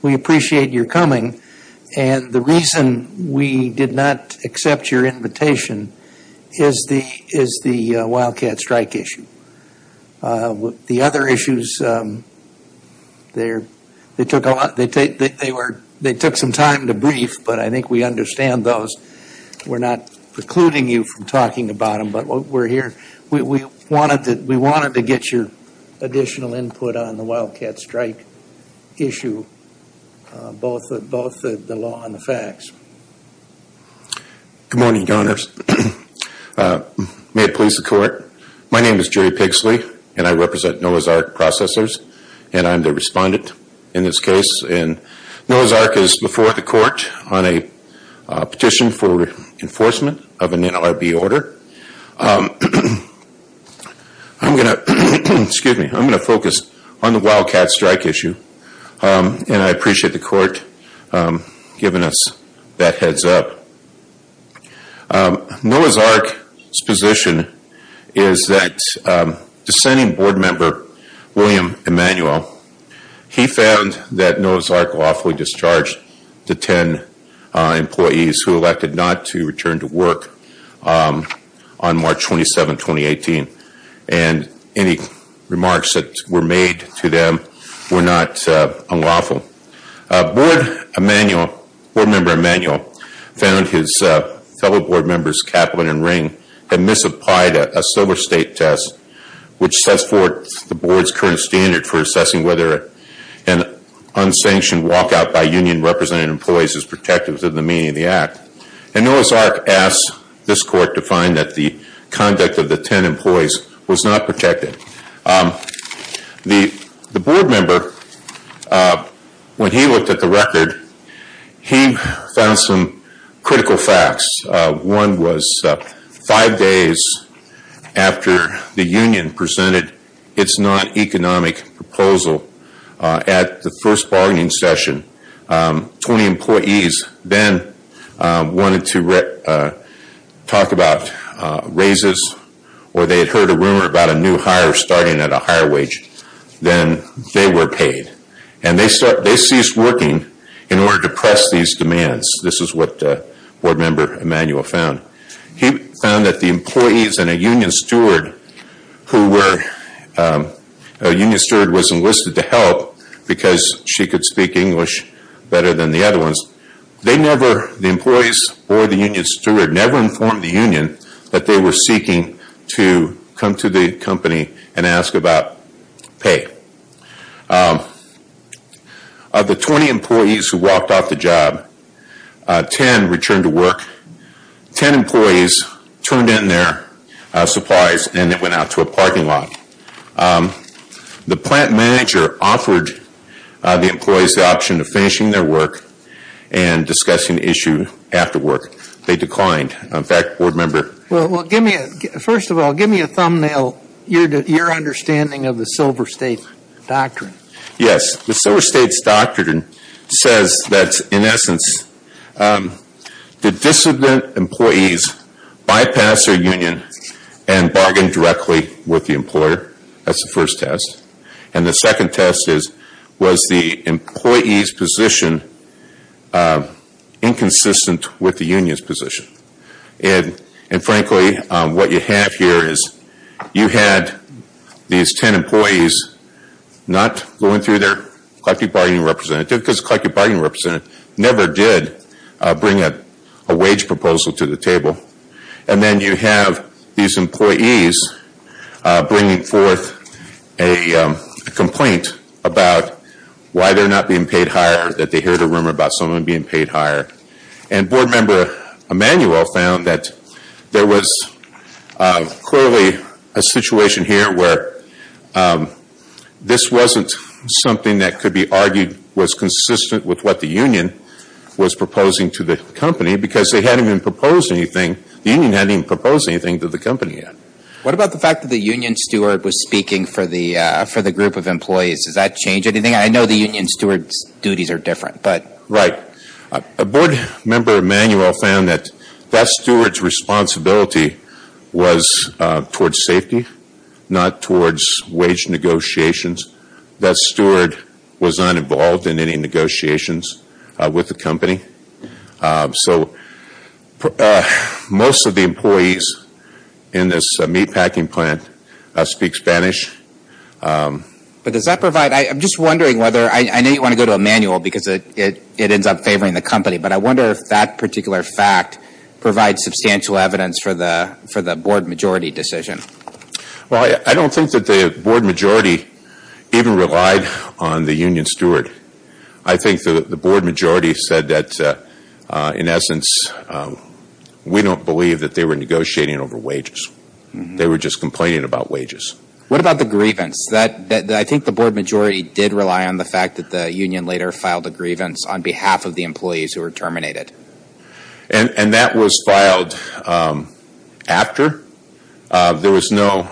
We appreciate your coming, and the reason we did not accept your invitation is the Wildcat Strike issue. The other issues, they took some time to brief, but I think we understand those. We're not precluding you from talking about them, but we wanted to get your additional input on the Wildcat Strike issue, both the law and the facts. Good morning, Your Honors. May it please the Court, my name is Jerry Pigsley, and I represent Noah's Ark Processors, and I'm the respondent in this case, and Noah's Ark is before the Court on a petition for enforcement of an NLRB order. I'm going to focus on the Wildcat Strike issue, and I appreciate the Court giving us that heads-up. Noah's Ark's position is that dissenting board member, William Emanuel, he found that Noah's on March 27, 2018, and any remarks that were made to them were not unlawful. Board member Emanuel found his fellow board members, Kaplan and Ring, had misapplied a Silver State test, which sets forth the board's current standard for assessing whether an unsanctioned walkout by union-represented employees is protective of the meaning of the act. And Noah's Ark asked this Court to find that the conduct of the 10 employees was not protected. The board member, when he looked at the record, he found some critical facts. One was, five days after the union presented its non-economic proposal at the first bargaining session, 20 employees then wanted to talk about raises, or they had heard a rumor about a new hire starting at a higher wage, then they were paid. And they ceased working in order to press these demands. This is what board member Emanuel found. He found that the employees and a union steward who were, a union steward was enlisted to help because she could speak English better than the other ones, they never, the employees or the union steward, never informed the union that they were seeking to come to the company and ask about pay. Of the 20 employees who walked off the job, 10 returned to work, 10 employees turned in their supplies and they went out to a parking lot. The plant manager offered the employees the option of finishing their work and discussing the issue after work. They declined. In fact, board member... Well, give me a, first of all, give me a thumbnail, your understanding of the Silver State doctrine. Yes. The Silver State's doctrine says that, in essence, the dissident employees bypass their employer. That's the first test. And the second test is, was the employee's position inconsistent with the union's position? And frankly, what you have here is, you had these 10 employees not going through their collective bargaining representative, because the collective bargaining representative never did bring a wage proposal to the table. And then you have these employees bringing forth a complaint about why they're not being paid higher, that they heard a rumor about someone being paid higher. And board member Emanuel found that there was clearly a situation here where this wasn't something that could be argued was consistent with what the union was proposing to the company, because they hadn't even proposed anything, the union hadn't even proposed anything to the company yet. What about the fact that the union steward was speaking for the group of employees? Does that change anything? I know the union steward's duties are different, but... Right. Board member Emanuel found that that steward's responsibility was towards safety, not towards That steward was not involved in any negotiations with the company. So, most of the employees in this meatpacking plant speak Spanish. But does that provide, I'm just wondering whether, I know you want to go to Emanuel because it ends up favoring the company, but I wonder if that particular fact provides substantial evidence for the board majority decision. Well, I don't think that the board majority even relied on the union steward. I think the board majority said that, in essence, we don't believe that they were negotiating over wages. They were just complaining about wages. What about the grievance? I think the board majority did rely on the fact that the union later filed a grievance on behalf of the employees who were terminated. And that was filed after. There was no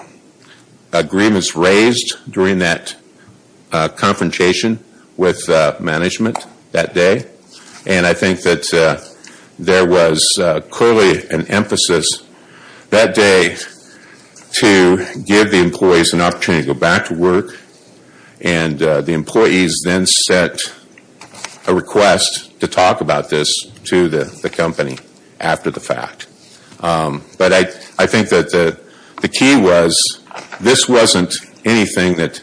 agreements raised during that confrontation with management that day. And I think that there was clearly an emphasis that day to give the employees an opportunity to go back to work. And the employees then sent a request to talk about this to the company after the fact. But I think that the key was, this wasn't anything that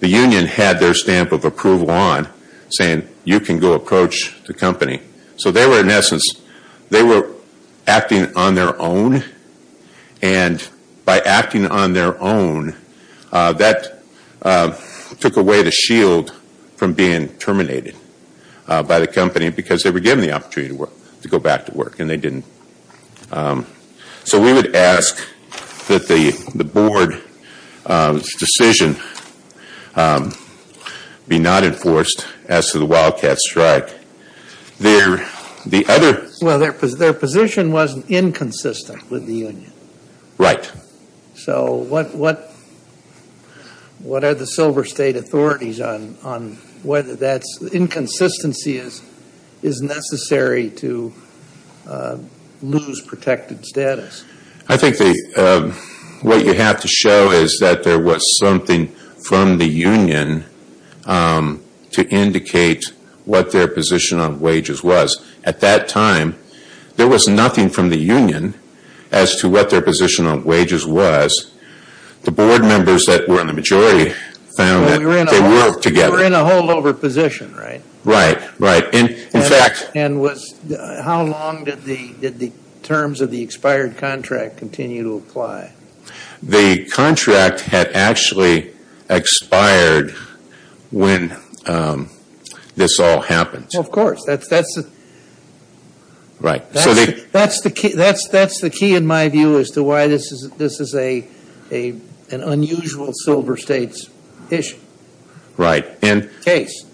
the union had their stamp of approval on saying, you can go approach the company. So they were, in essence, they were acting on their own. And by acting on their own, that took away the shield from being terminated by the company because they were given the opportunity to go back to work. And they didn't. So we would ask that the board's decision be not enforced as to the Wildcat strike. Well, their position was inconsistent with the union. Right. So what are the Silver State authorities on whether that inconsistency is necessary to lose protected status? I think what you have to show is that there was something from the union to indicate what their position on wages was. At that time, there was nothing from the union as to what their position on wages was. The board members that were in the majority found that they worked together. You were in a holdover position, right? Right. Right. In fact... And how long did the terms of the expired contract continue to apply? The contract had actually expired when this all happened. Well, of course. That's the key, in my view, as to why this is an unusual Silver State's issue. Right. Case.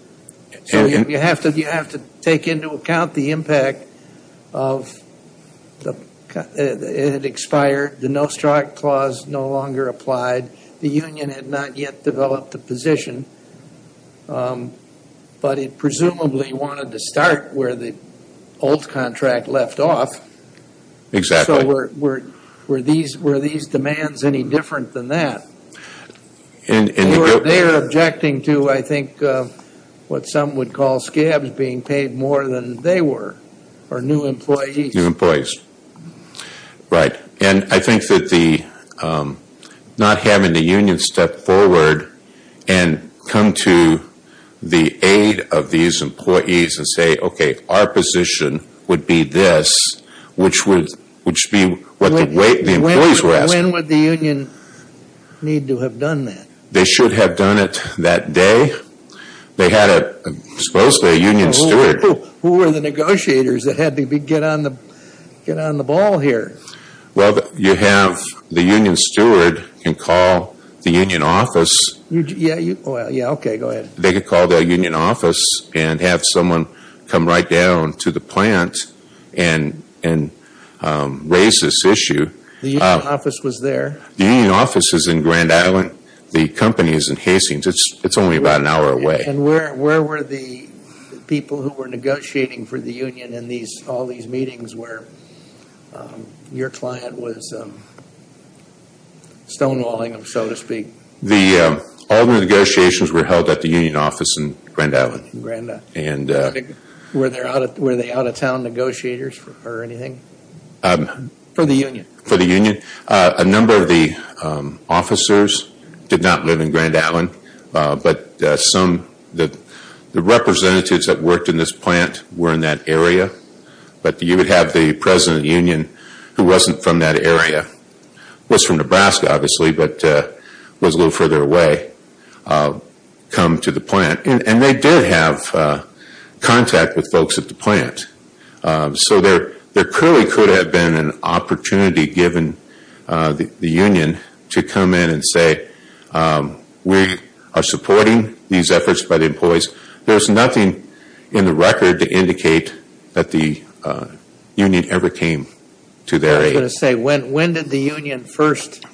So you have to take into account the impact of it had expired, the no-strike clause no longer applied, the union had not yet developed a position. But it presumably wanted to start where the old contract left off. Exactly. So were these demands any different than that? They are objecting to, I think, what some would call scabs being paid more than they were, or new employees. New employees. Right. And I think that not having the union step forward and come to the aid of these employees and say, okay, our position would be this, which would be what the employees were asking. When would the union need to have done that? They should have done it that day. They had, supposedly, a union steward. Who were the negotiators that had to get on the ball here? Well, you have the union steward can call the union office. Yeah. Okay. Go ahead. They could call their union office and have someone come right down to the plant and raise this issue. The union office was there? The union office is in Grand Island. The company is in Hastings. It's only about an hour away. Okay. And where were the people who were negotiating for the union in all these meetings where your client was stonewalling them, so to speak? All the negotiations were held at the union office in Grand Island. Were they out-of-town negotiators or anything? For the union? For the union. A number of the officers did not live in Grand Island, but the representatives that worked in this plant were in that area. But you would have the president of the union, who wasn't from that area, was from Nebraska, obviously, but was a little further away, come to the plant. And they did have contact with folks at the plant. So there clearly could have been an opportunity given the union to come in and say, we are supporting these efforts by the employees. There's nothing in the record to indicate that the union ever came to their aid. I was going to say, when did the union first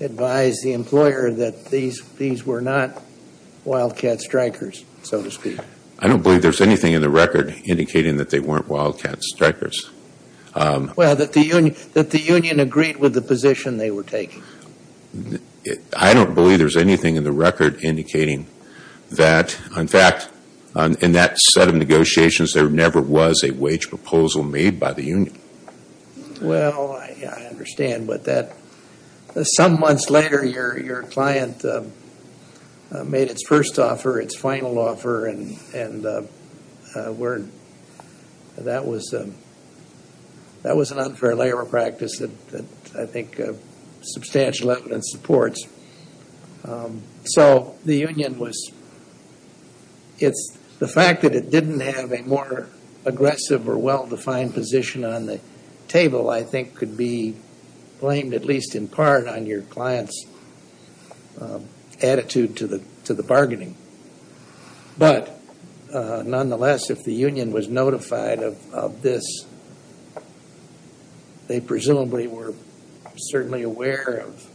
advise the employer that these were not wildcat strikers, so to speak? I don't believe there's anything in the record indicating that they weren't wildcat strikers. Well, that the union agreed with the position they were taking. I don't believe there's anything in the record indicating that. In fact, in that set of negotiations, there never was a wage proposal made by the union. Well, I understand. But some months later, your client made its first offer, its final offer, and that was an unfair labor practice that I think substantial evidence supports. So the union was, the fact that it didn't have a more aggressive or well-defined position on the table I think could be blamed at least in part on your client's attitude to the bargaining. But nonetheless, if the union was notified of this, they presumably were certainly aware of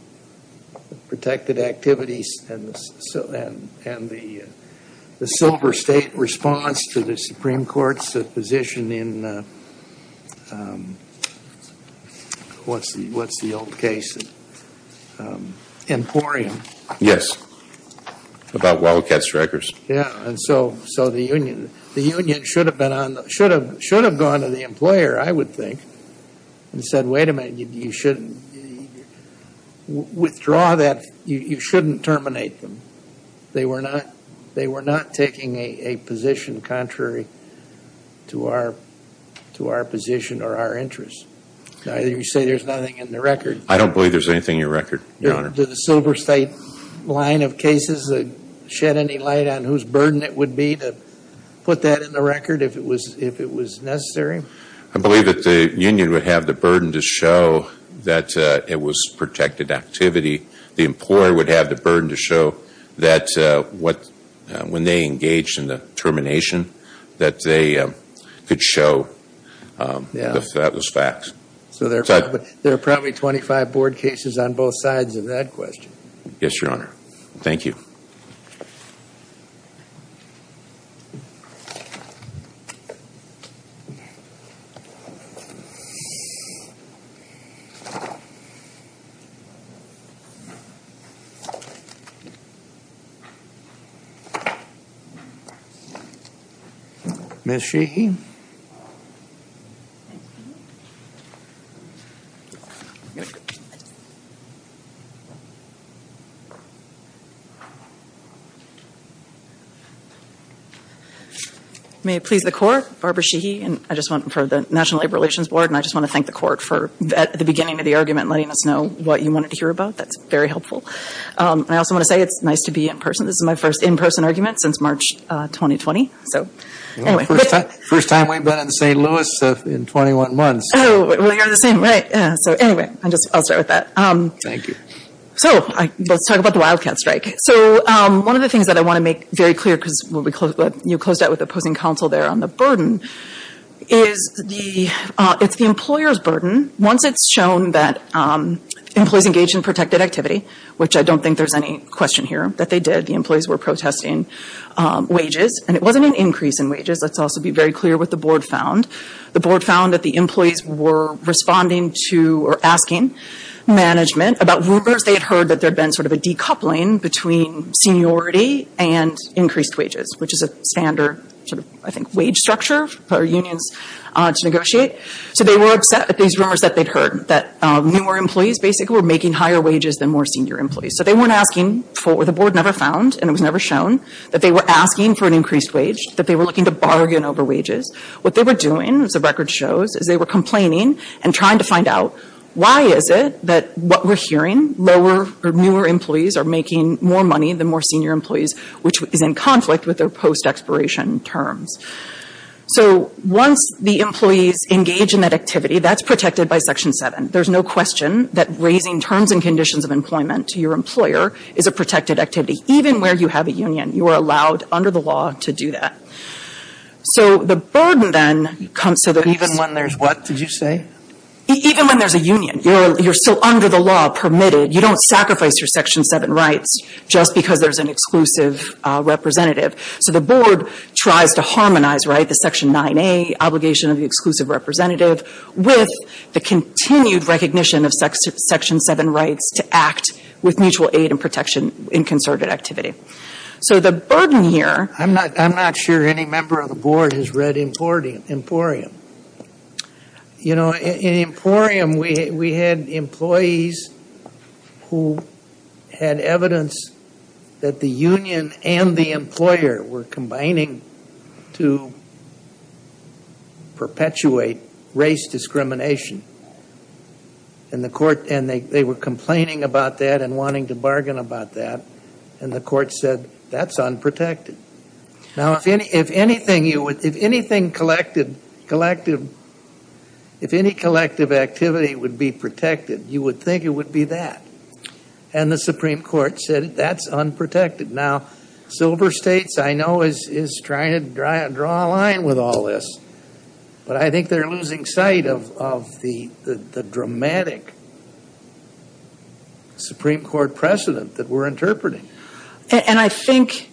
protected activities and the silver state response to the Supreme Court's position in what's the old case, Emporium. Yes, about wildcat strikers. Yeah, and so the union should have gone to the employer, I would think, and said, wait a minute, you shouldn't, withdraw that, you shouldn't terminate them. They were not taking a position contrary to our position or our interests. Either you say there's nothing in the record. I don't believe there's anything in the record, Your Honor. Did the silver state line of cases shed any light on whose burden it would be to put that in the record if it was necessary? I believe that the union would have the burden to show that it was protected activity. The employer would have the burden to show that when they engaged in the termination that they could show that that was fact. So there are probably 25 board cases on both sides of that question. Yes, Your Honor. Thank you. Ms. Sheehy? May it please the Court, Barbara Sheehy, and I just want, for the National Labor Relations Board, and I just want to thank the Court for at the beginning of the argument letting us know what you wanted to hear about. That's very helpful. And I also want to say it's nice to be in person. This is my first in-person argument since March 2020. So anyway. First time we've been in St. Louis in 21 months. Oh, well, you're the same, right? So anyway, I'll start with that. Thank you. So let's talk about the Wildcat Strike. So one of the things that I want to make very clear, because you closed out with opposing counsel there on the burden, is it's the employer's burden. Once it's shown that employees engaged in protected activity, which I don't think there's any question here that they did, the employees were protesting wages, and it wasn't an increase in wages. Let's also be very clear what the Board found. The Board found that the employees were responding to or asking management about rumors they had heard that there had been sort of a decoupling between seniority and increased wages, which is a standard sort of, I think, wage structure for unions to negotiate. So they were upset at these rumors that they'd heard, that newer employees basically were making higher wages than more senior employees. So they weren't asking for what the Board never found, and it was never shown, that they were asking for an increased wage, that they were looking to bargain over wages. What they were doing, as the record shows, is they were complaining and trying to find out why is it that what we're hearing, lower or newer employees are making more money than more senior employees, which is in conflict with their post-expiration terms. So once the employees engage in that activity, that's protected by Section 7. There's no question that raising terms and conditions of employment to your employer is a protected activity. Even where you have a union, you are allowed, under the law, to do that. So the burden then comes to the... But even when there's what, did you say? Even when there's a union, you're still under the law, permitted. You don't sacrifice your Section 7 rights just because there's an exclusive representative. So the Board tries to harmonize the Section 9A, obligation of the exclusive representative, with the continued recognition of Section 7 rights to act with mutual aid and protection in concerted activity. So the burden here... I'm not sure any member of the Board has read Emporium. In Emporium, we had employees who had evidence that the union and the employer were combining to perpetuate race discrimination. And they were complaining about that and wanting to bargain about that. And the court said, that's unprotected. Now, if anything, if any collective activity would be protected, you would think it would be that. And the Supreme Court said, that's unprotected. Now, Silver States, I know, is trying to draw a line with all this. But I think they're losing sight of the dramatic Supreme Court precedent that we're interpreting. And I think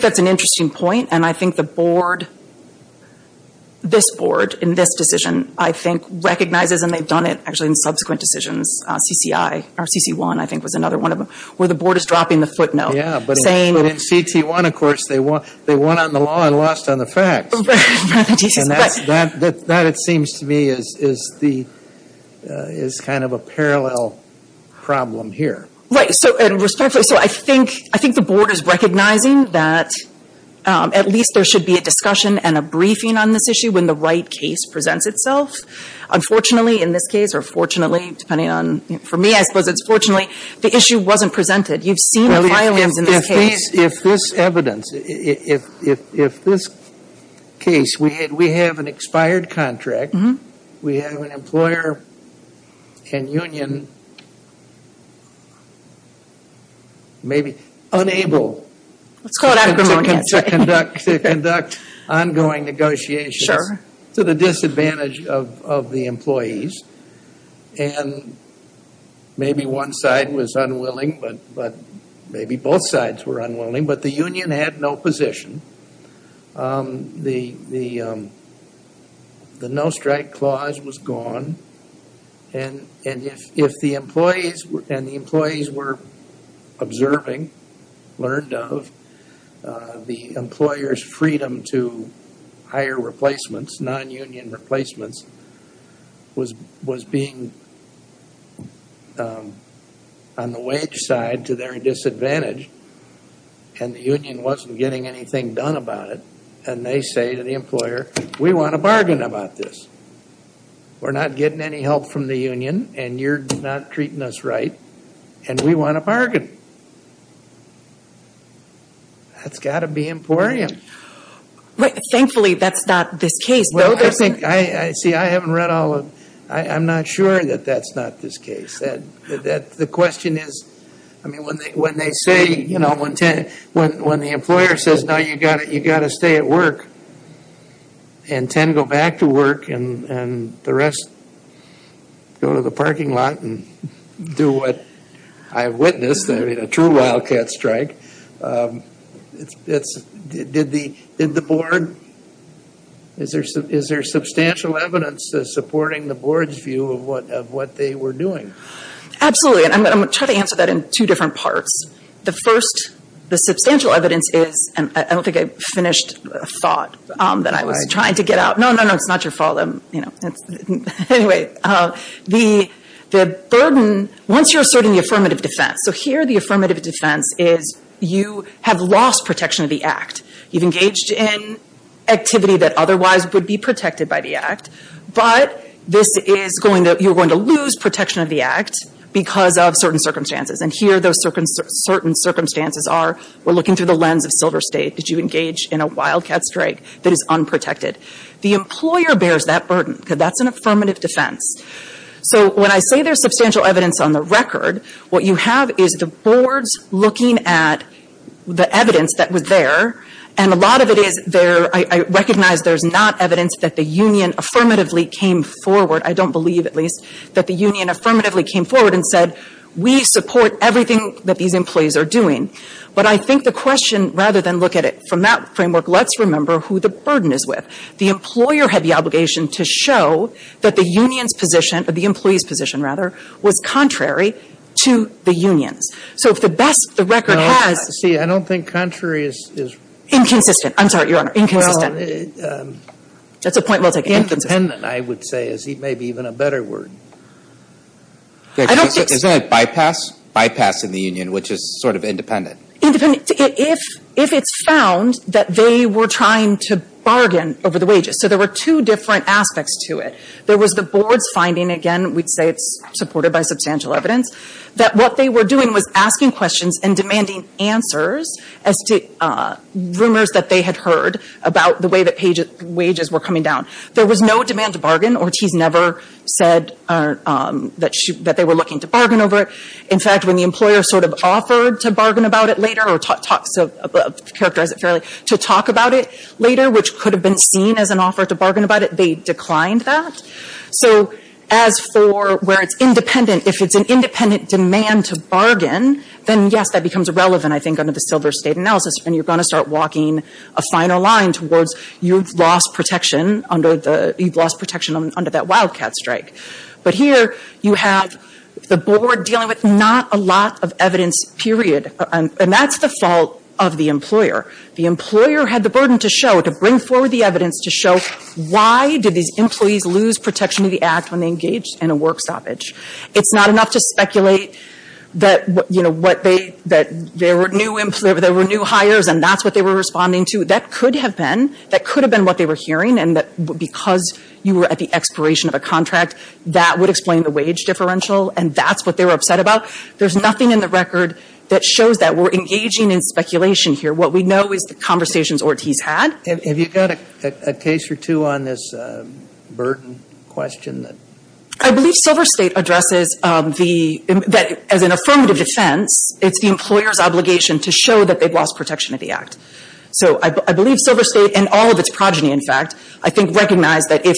that's an interesting point. And I think the Board, this Board, in this decision, I think, recognizes, and they've done it actually in subsequent decisions, CCI, or CC1, I think was another one of them, where the Board is dropping the footnote. Yeah, but in CT1, of course, they won on the law and lost on the facts. And that, it seems to me, is kind of a parallel problem here. Right. So, and respectfully, so I think the Board is recognizing that at least there should be a discussion and a briefing on this issue when the right case presents itself. Unfortunately, in this case, or fortunately, depending on, for me, I suppose it's fortunately, the issue wasn't presented. You've seen the violence in this case. If this evidence, if this case, we have an expired contract. We have an employer and union maybe unable to conduct ongoing negotiations to the disadvantage of the employees. And maybe one side was unwilling, but maybe both sides were unwilling. But the union had no position. The no-strike clause was gone. And if the employees were observing, learned of, the employer's freedom to hire replacements, non-union replacements, was being on the wage side to their disadvantage. And the union wasn't getting anything done about it. And they say to the employer, we want a bargain about this. We're not getting any help from the union and you're not treating us right. And we want a bargain. That's got to be emporium. Right. Thankfully, that's not this case. Well, I think, I see, I haven't read all of, I'm not sure that that's not this case. The question is, I mean, when they say, you know, when the employer says, no, you've got to stay at work and ten go back to work and the rest go to the parking lot and do what I have witnessed, a true wildcat strike, did the board, is there substantial evidence supporting the board's view of what they were doing? Absolutely. And I'm going to try to answer that in two different parts. The first, the substantial evidence is, I don't think I finished a thought that I was trying to get out. No, no, no, it's not your fault. You know, anyway, the burden, once you're asserting the affirmative defense, so here the affirmative defense is you have lost protection of the act. You've engaged in activity that otherwise would be protected by the act, but this is going to, you're going to lose protection of the act because of certain circumstances. And here those certain circumstances are, we're looking through the lens of Silver State. Did you engage in a wildcat strike that is unprotected? The employer bears that burden because that's an affirmative defense. So when I say there's substantial evidence on the record, what you have is the boards looking at the evidence that was there, and a lot of it is there, I recognize there's not evidence that the union affirmatively came forward, I don't believe at least, that the union affirmatively came forward and said, we support everything that these employees are doing. But I think the question, rather than look at it from that framework, let's remember who the burden is with. The employer had the obligation to show that the union's position, or the employee's position rather, was contrary to the union's. So if the best, the record has- See, I don't think contrary is- Inconsistent. I'm sorry, your honor. Inconsistent. That's a point well taken. Independent, I would say, is maybe even a better word. I don't think- Isn't it bypass? Bypass in the union, which is sort of independent. Independent, if it's found that they were trying to bargain over the wages. So there were two different aspects to it. There was the board's finding, again, we'd say it's supported by substantial evidence, that what they were doing was asking questions and demanding answers as to rumors that they had heard about the way that wages were coming down. There was no demand to bargain. Ortiz never said that they were looking to bargain over it. In fact, when the employer sort of offered to bargain about it later, or talked, to characterize it fairly, to talk about it later, which could have been seen as an offer to bargain about it, they declined that. So as for where it's independent, if it's an independent demand to bargain, then yes, that becomes irrelevant, I think, under the Silver State analysis. And you're going to start walking a finer line towards you've lost protection under that wildcat strike. But here, you have the board dealing with not a lot of evidence, period. And that's the fault of the employer. The employer had the burden to show, to bring forward the evidence to show, why did these employees lose protection of the Act when they engaged in a work stoppage? It's not enough to speculate that, you know, what they, that there were new employers, there were new hires, and that's what they were responding to. That could have been. That could have been what they were hearing, and that because you were at the expiration of a contract, that would explain the wage differential, and that's what they were upset about. There's nothing in the record that shows that. We're engaging in speculation here. What we know is the conversations Ortiz had. Have you got a case or two on this burden question? I believe Silver State addresses the, that as an affirmative defense, it's the employer's obligation to show that they've lost protection of the Act. So I believe Silver State, and all of its progeny, in fact, I think recognize that if,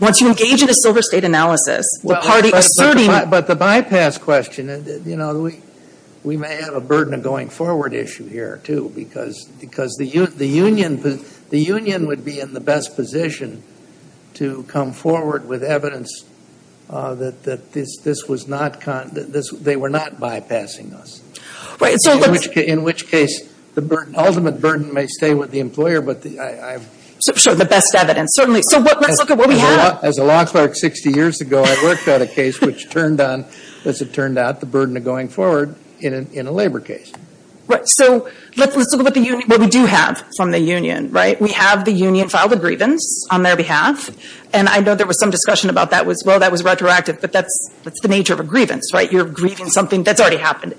once you engage in a Silver State analysis, the party asserting. But the bypass question, you know, we may have a burden of going forward issue here, too. Because the union, the union would be in the best position to come forward with evidence that this was not, they were not bypassing us. In which case, the ultimate burden may stay with the employer, but I. Sure, the best evidence, certainly. So let's look at what we have. As a law clerk 60 years ago, I worked on a case which turned on, as it turned out, the burden of going forward in a labor case. Right, so let's look at what the union, what we do have from the union, right? We have the union file the grievance on their behalf. And I know there was some discussion about that was, well, that was retroactive. But that's, that's the nature of a grievance, right? You're grieving something that's already happened.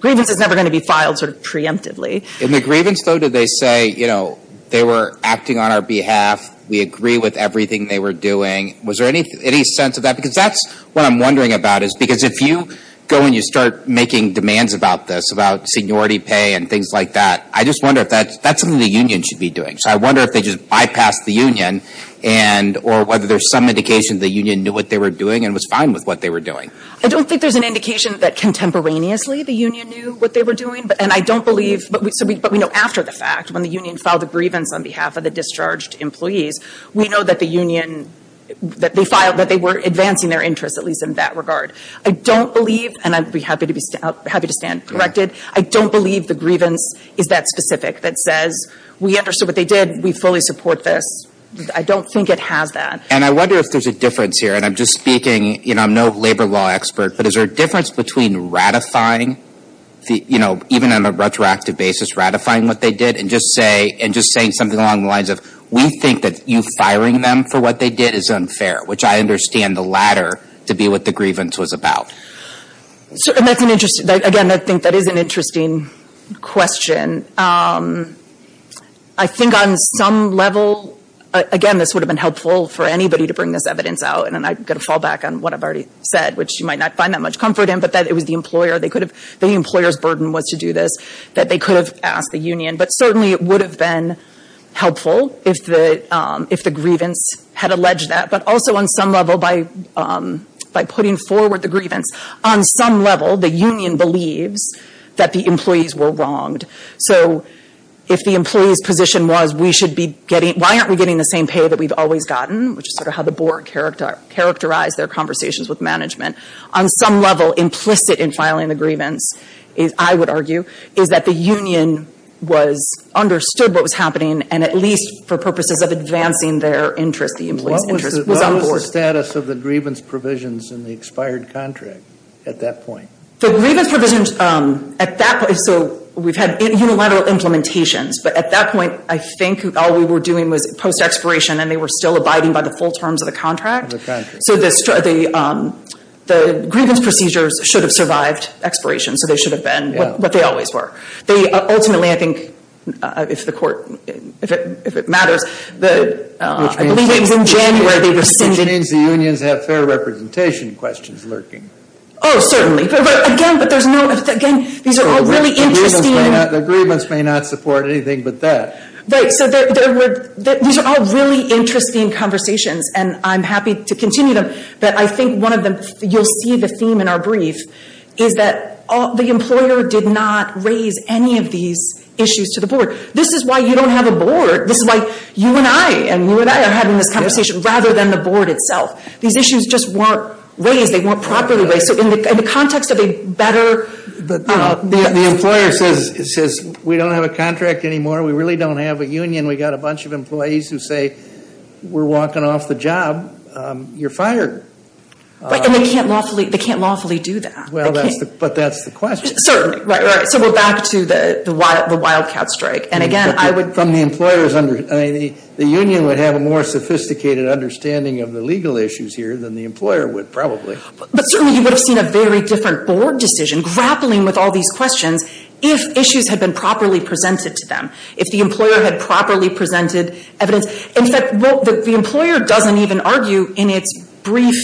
Grievance is never going to be filed sort of preemptively. In the grievance, though, did they say, you know, they were acting on our behalf. We agree with everything they were doing. Was there any, any sense of that? Because that's what I'm wondering about is, because if you go and you start making demands about this, about seniority pay and things like that, I just wonder if that's, that's something the union should be doing. So I wonder if they just bypassed the union and, or whether there's some indication that the union knew what they were doing and was fine with what they were doing. I don't think there's an indication that contemporaneously the union knew what they were doing. But, and I don't believe, but we, so we, but we know after the fact, when the union filed the grievance on behalf of the discharged employees, we know that the union, that they filed, that they were advancing their interests, at least in that regard. I don't believe, and I'd be happy to be, happy to stand corrected. I don't believe the grievance is that specific that says, we understood what they did, we fully support this. I don't think it has that. And I wonder if there's a difference here. And I'm just speaking, you know, I'm no labor law expert, but is there a difference between ratifying the, you know, even on a retroactive basis, ratifying what they did and just say, and just saying something along the lines of, we think that you firing them for what they did is unfair. Which I understand the latter to be what the grievance was about. So, and that's an interesting, again, I think that is an interesting question. I think on some level, again, this would have been helpful for anybody to bring this evidence out. And I'm going to fall back on what I've already said, which you might not find that much comfort in. But that it was the employer, they could have, the employer's burden was to do this. That they could have asked the union. But certainly it would have been helpful if the, if the grievance had alleged that. But also on some level, by putting forward the grievance, on some level, the union believes that the employees were wronged. So, if the employee's position was, we should be getting, why aren't we getting the same pay that we've always gotten, which is sort of how the board characterized their conversations with management, on some level implicit in filing the grievance, I would argue, is that the union was, understood what was happening, and at least for purposes of advancing their interest, the employee's interest, was on board. What was the status of the grievance provisions in the expired contract at that point? The grievance provisions, at that point, so we've had unilateral implementations. But at that point, I think all we were doing was post-expiration, and they were still abiding by the full terms of the contract. So, the grievance procedures should have survived expiration. So, they should have been what they always were. They, ultimately, I think, if the court, if it matters, I believe it was in January, they rescinded. Which means the unions have fair representation questions lurking. Oh, certainly. But again, but there's no, again, these are all really interesting. The grievance may not support anything but that. Right, so these are all really interesting conversations, and I'm happy to continue them. But I think one of them, you'll see the theme in our brief, is that the employer did not raise any of these issues to the board. This is why you don't have a board. This is why you and I, and you and I are having this conversation, rather than the board itself. These issues just weren't raised, they weren't properly raised. So, in the context of a better- But the employer says, we don't have a contract anymore, we really don't have a union. We got a bunch of employees who say, we're walking off the job, you're fired. Right, and they can't lawfully do that. Well, but that's the question. Certainly, right, right. So, we're back to the wildcat strike. And again, I would- From the employer's understanding, the union would have a more sophisticated understanding of the legal issues here than the employer would, probably. But certainly, you would have seen a very different board decision grappling with all these questions if issues had been properly presented to them. If the employer had properly presented evidence. In fact, the employer doesn't even argue in its brief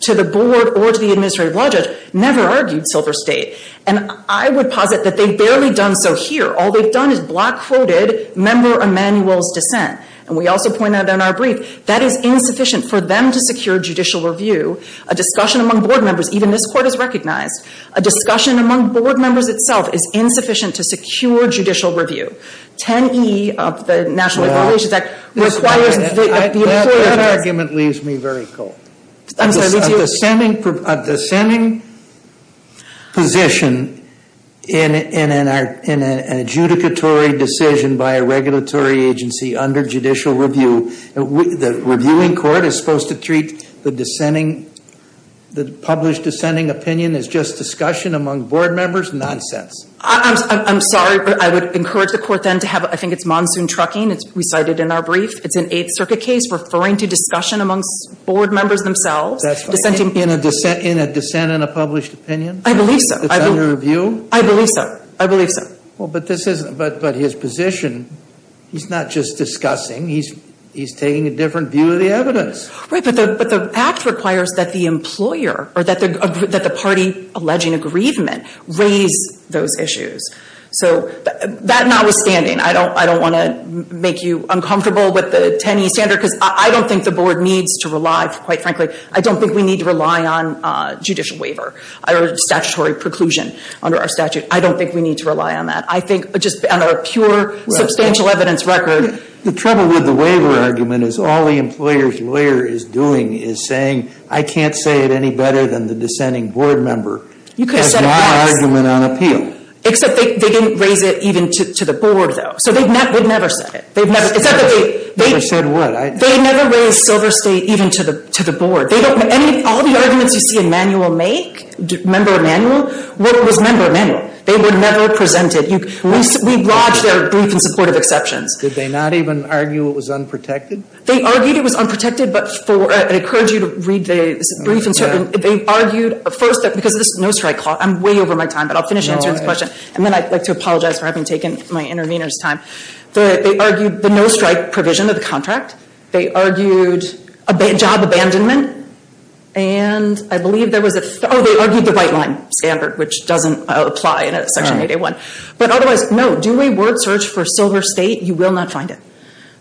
to the board or to the administrative law judge, never argued Silver State. And I would posit that they've barely done so here. All they've done is black quoted Member Emanuel's dissent. And we also pointed out in our brief, that is insufficient for them to secure judicial review. A discussion among board members, even this court has recognized, a discussion among board members itself is insufficient to secure judicial review. 10E of the National Equalities Act requires that the employer- That argument leaves me very cold. I'm sorry, did you- A dissenting position in an adjudicatory decision by a regulatory agency under judicial review. The reviewing court is supposed to treat the published dissenting opinion as just discussion among board members? Nonsense. I'm sorry, but I would encourage the court then to have, I think it's monsoon trucking, it's recited in our brief. It's an Eighth Circuit case referring to discussion amongst board members themselves. That's right. In a dissent in a published opinion? I believe so. It's under review? I believe so. I believe so. Well, but his position, he's not just discussing, he's taking a different view of the evidence. Right, but the act requires that the employer or that the party alleging aggrievement raise those issues. So, that notwithstanding, I don't want to make you uncomfortable with the 10E standard because I don't think the board needs to rely, quite frankly, I don't think we need to rely on judicial waiver or statutory preclusion under our statute. I don't think we need to rely on that. I think just on our pure substantial evidence record- The trouble with the waiver argument is all the employer's lawyer is doing is saying, I can't say it any better than the dissenting board member has my argument on appeal. Except they didn't raise it even to the board, though. So, they've never said it. It's not that they- They said what? They never raised Silver State even to the board. All the arguments you see a member of manual make, what was member of manual? They were never presented. We've lodged our brief in support of exceptions. Did they not even argue it was unprotected? They argued it was unprotected, but for, I encourage you to read the brief and certain. They argued, first, because this is a no-strike clause, I'm way over my time, but I'll finish answering this question. And then I'd like to apologize for having taken my intervener's time. They argued the no-strike provision of the contract. They argued a job abandonment, and I believe there was a, they argued the white line standard, which doesn't apply in Section 8A1. But otherwise, no, do a word search for Silver State. You will not find it.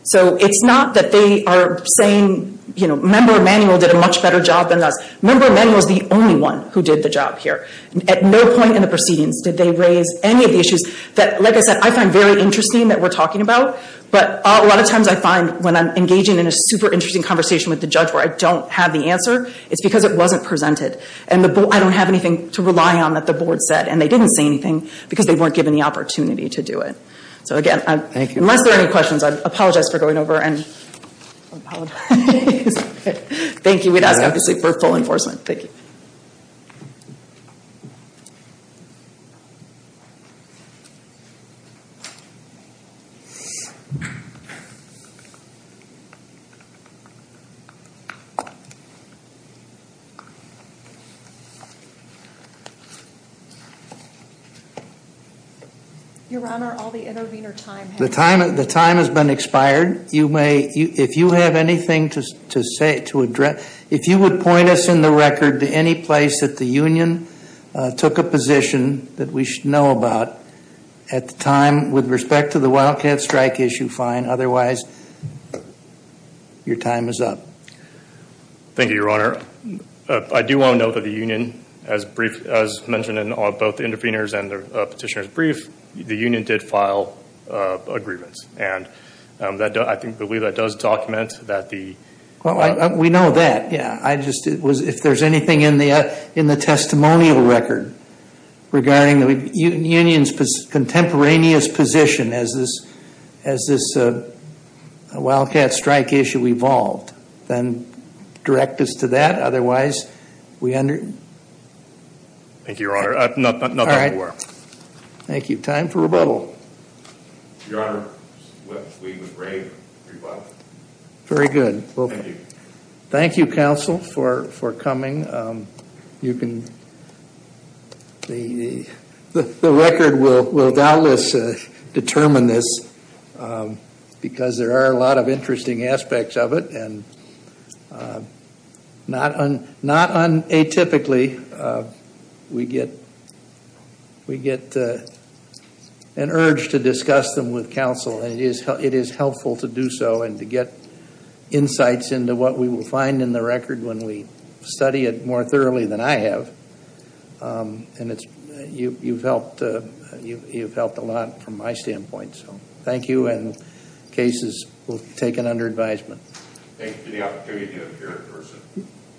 So, it's not that they are saying, you know, member of manual did a much better job than us. Member of manual is the only one who did the job here. At no point in the proceedings did they raise any of the issues that, like I said, I find very interesting that we're talking about. But a lot of times I find when I'm engaging in a super interesting conversation with the judge where I don't have the answer, it's because it wasn't presented. And I don't have anything to rely on that the board said, and they didn't say anything because they weren't given the opportunity to do it. So again, unless there are any questions, I apologize for going over and, I apologize. Thank you, we'd ask obviously for full enforcement. Thank you. Your Honor, all the intervener time has expired. The time has been expired. You may, if you have anything to say, to address, if you would point us in the record to any place that the union took a position that we should know about at the time with respect to the Wildcat Strike issue, fine. Otherwise, your time is up. Thank you, Your Honor. I do want to note that the union, as mentioned in both the intervener's and the petitioner's brief, the union did file agreements. And I believe that does document that the- Well, we know that, yeah. I just, if there's anything in the testimonial record regarding the union's contemporaneous position as this Wildcat Strike issue evolved, then direct us to that. Otherwise, we under- Thank you, Your Honor. Not that we're aware of. Thank you. Time for rebuttal. Your Honor, we would rave rebuttal. Very good. Thank you. Thank you, counsel, for coming. You can, the record will doubtless determine this because there are a lot of interesting aspects of it. And not unatypically, we get an urge to discuss them with counsel. And it is helpful to do so and to get insights into what we will find in the record when we study it more thoroughly than I have. And you've helped a lot from my standpoint. So thank you, and cases will be taken under advisement. Thank you for the opportunity to appear in person.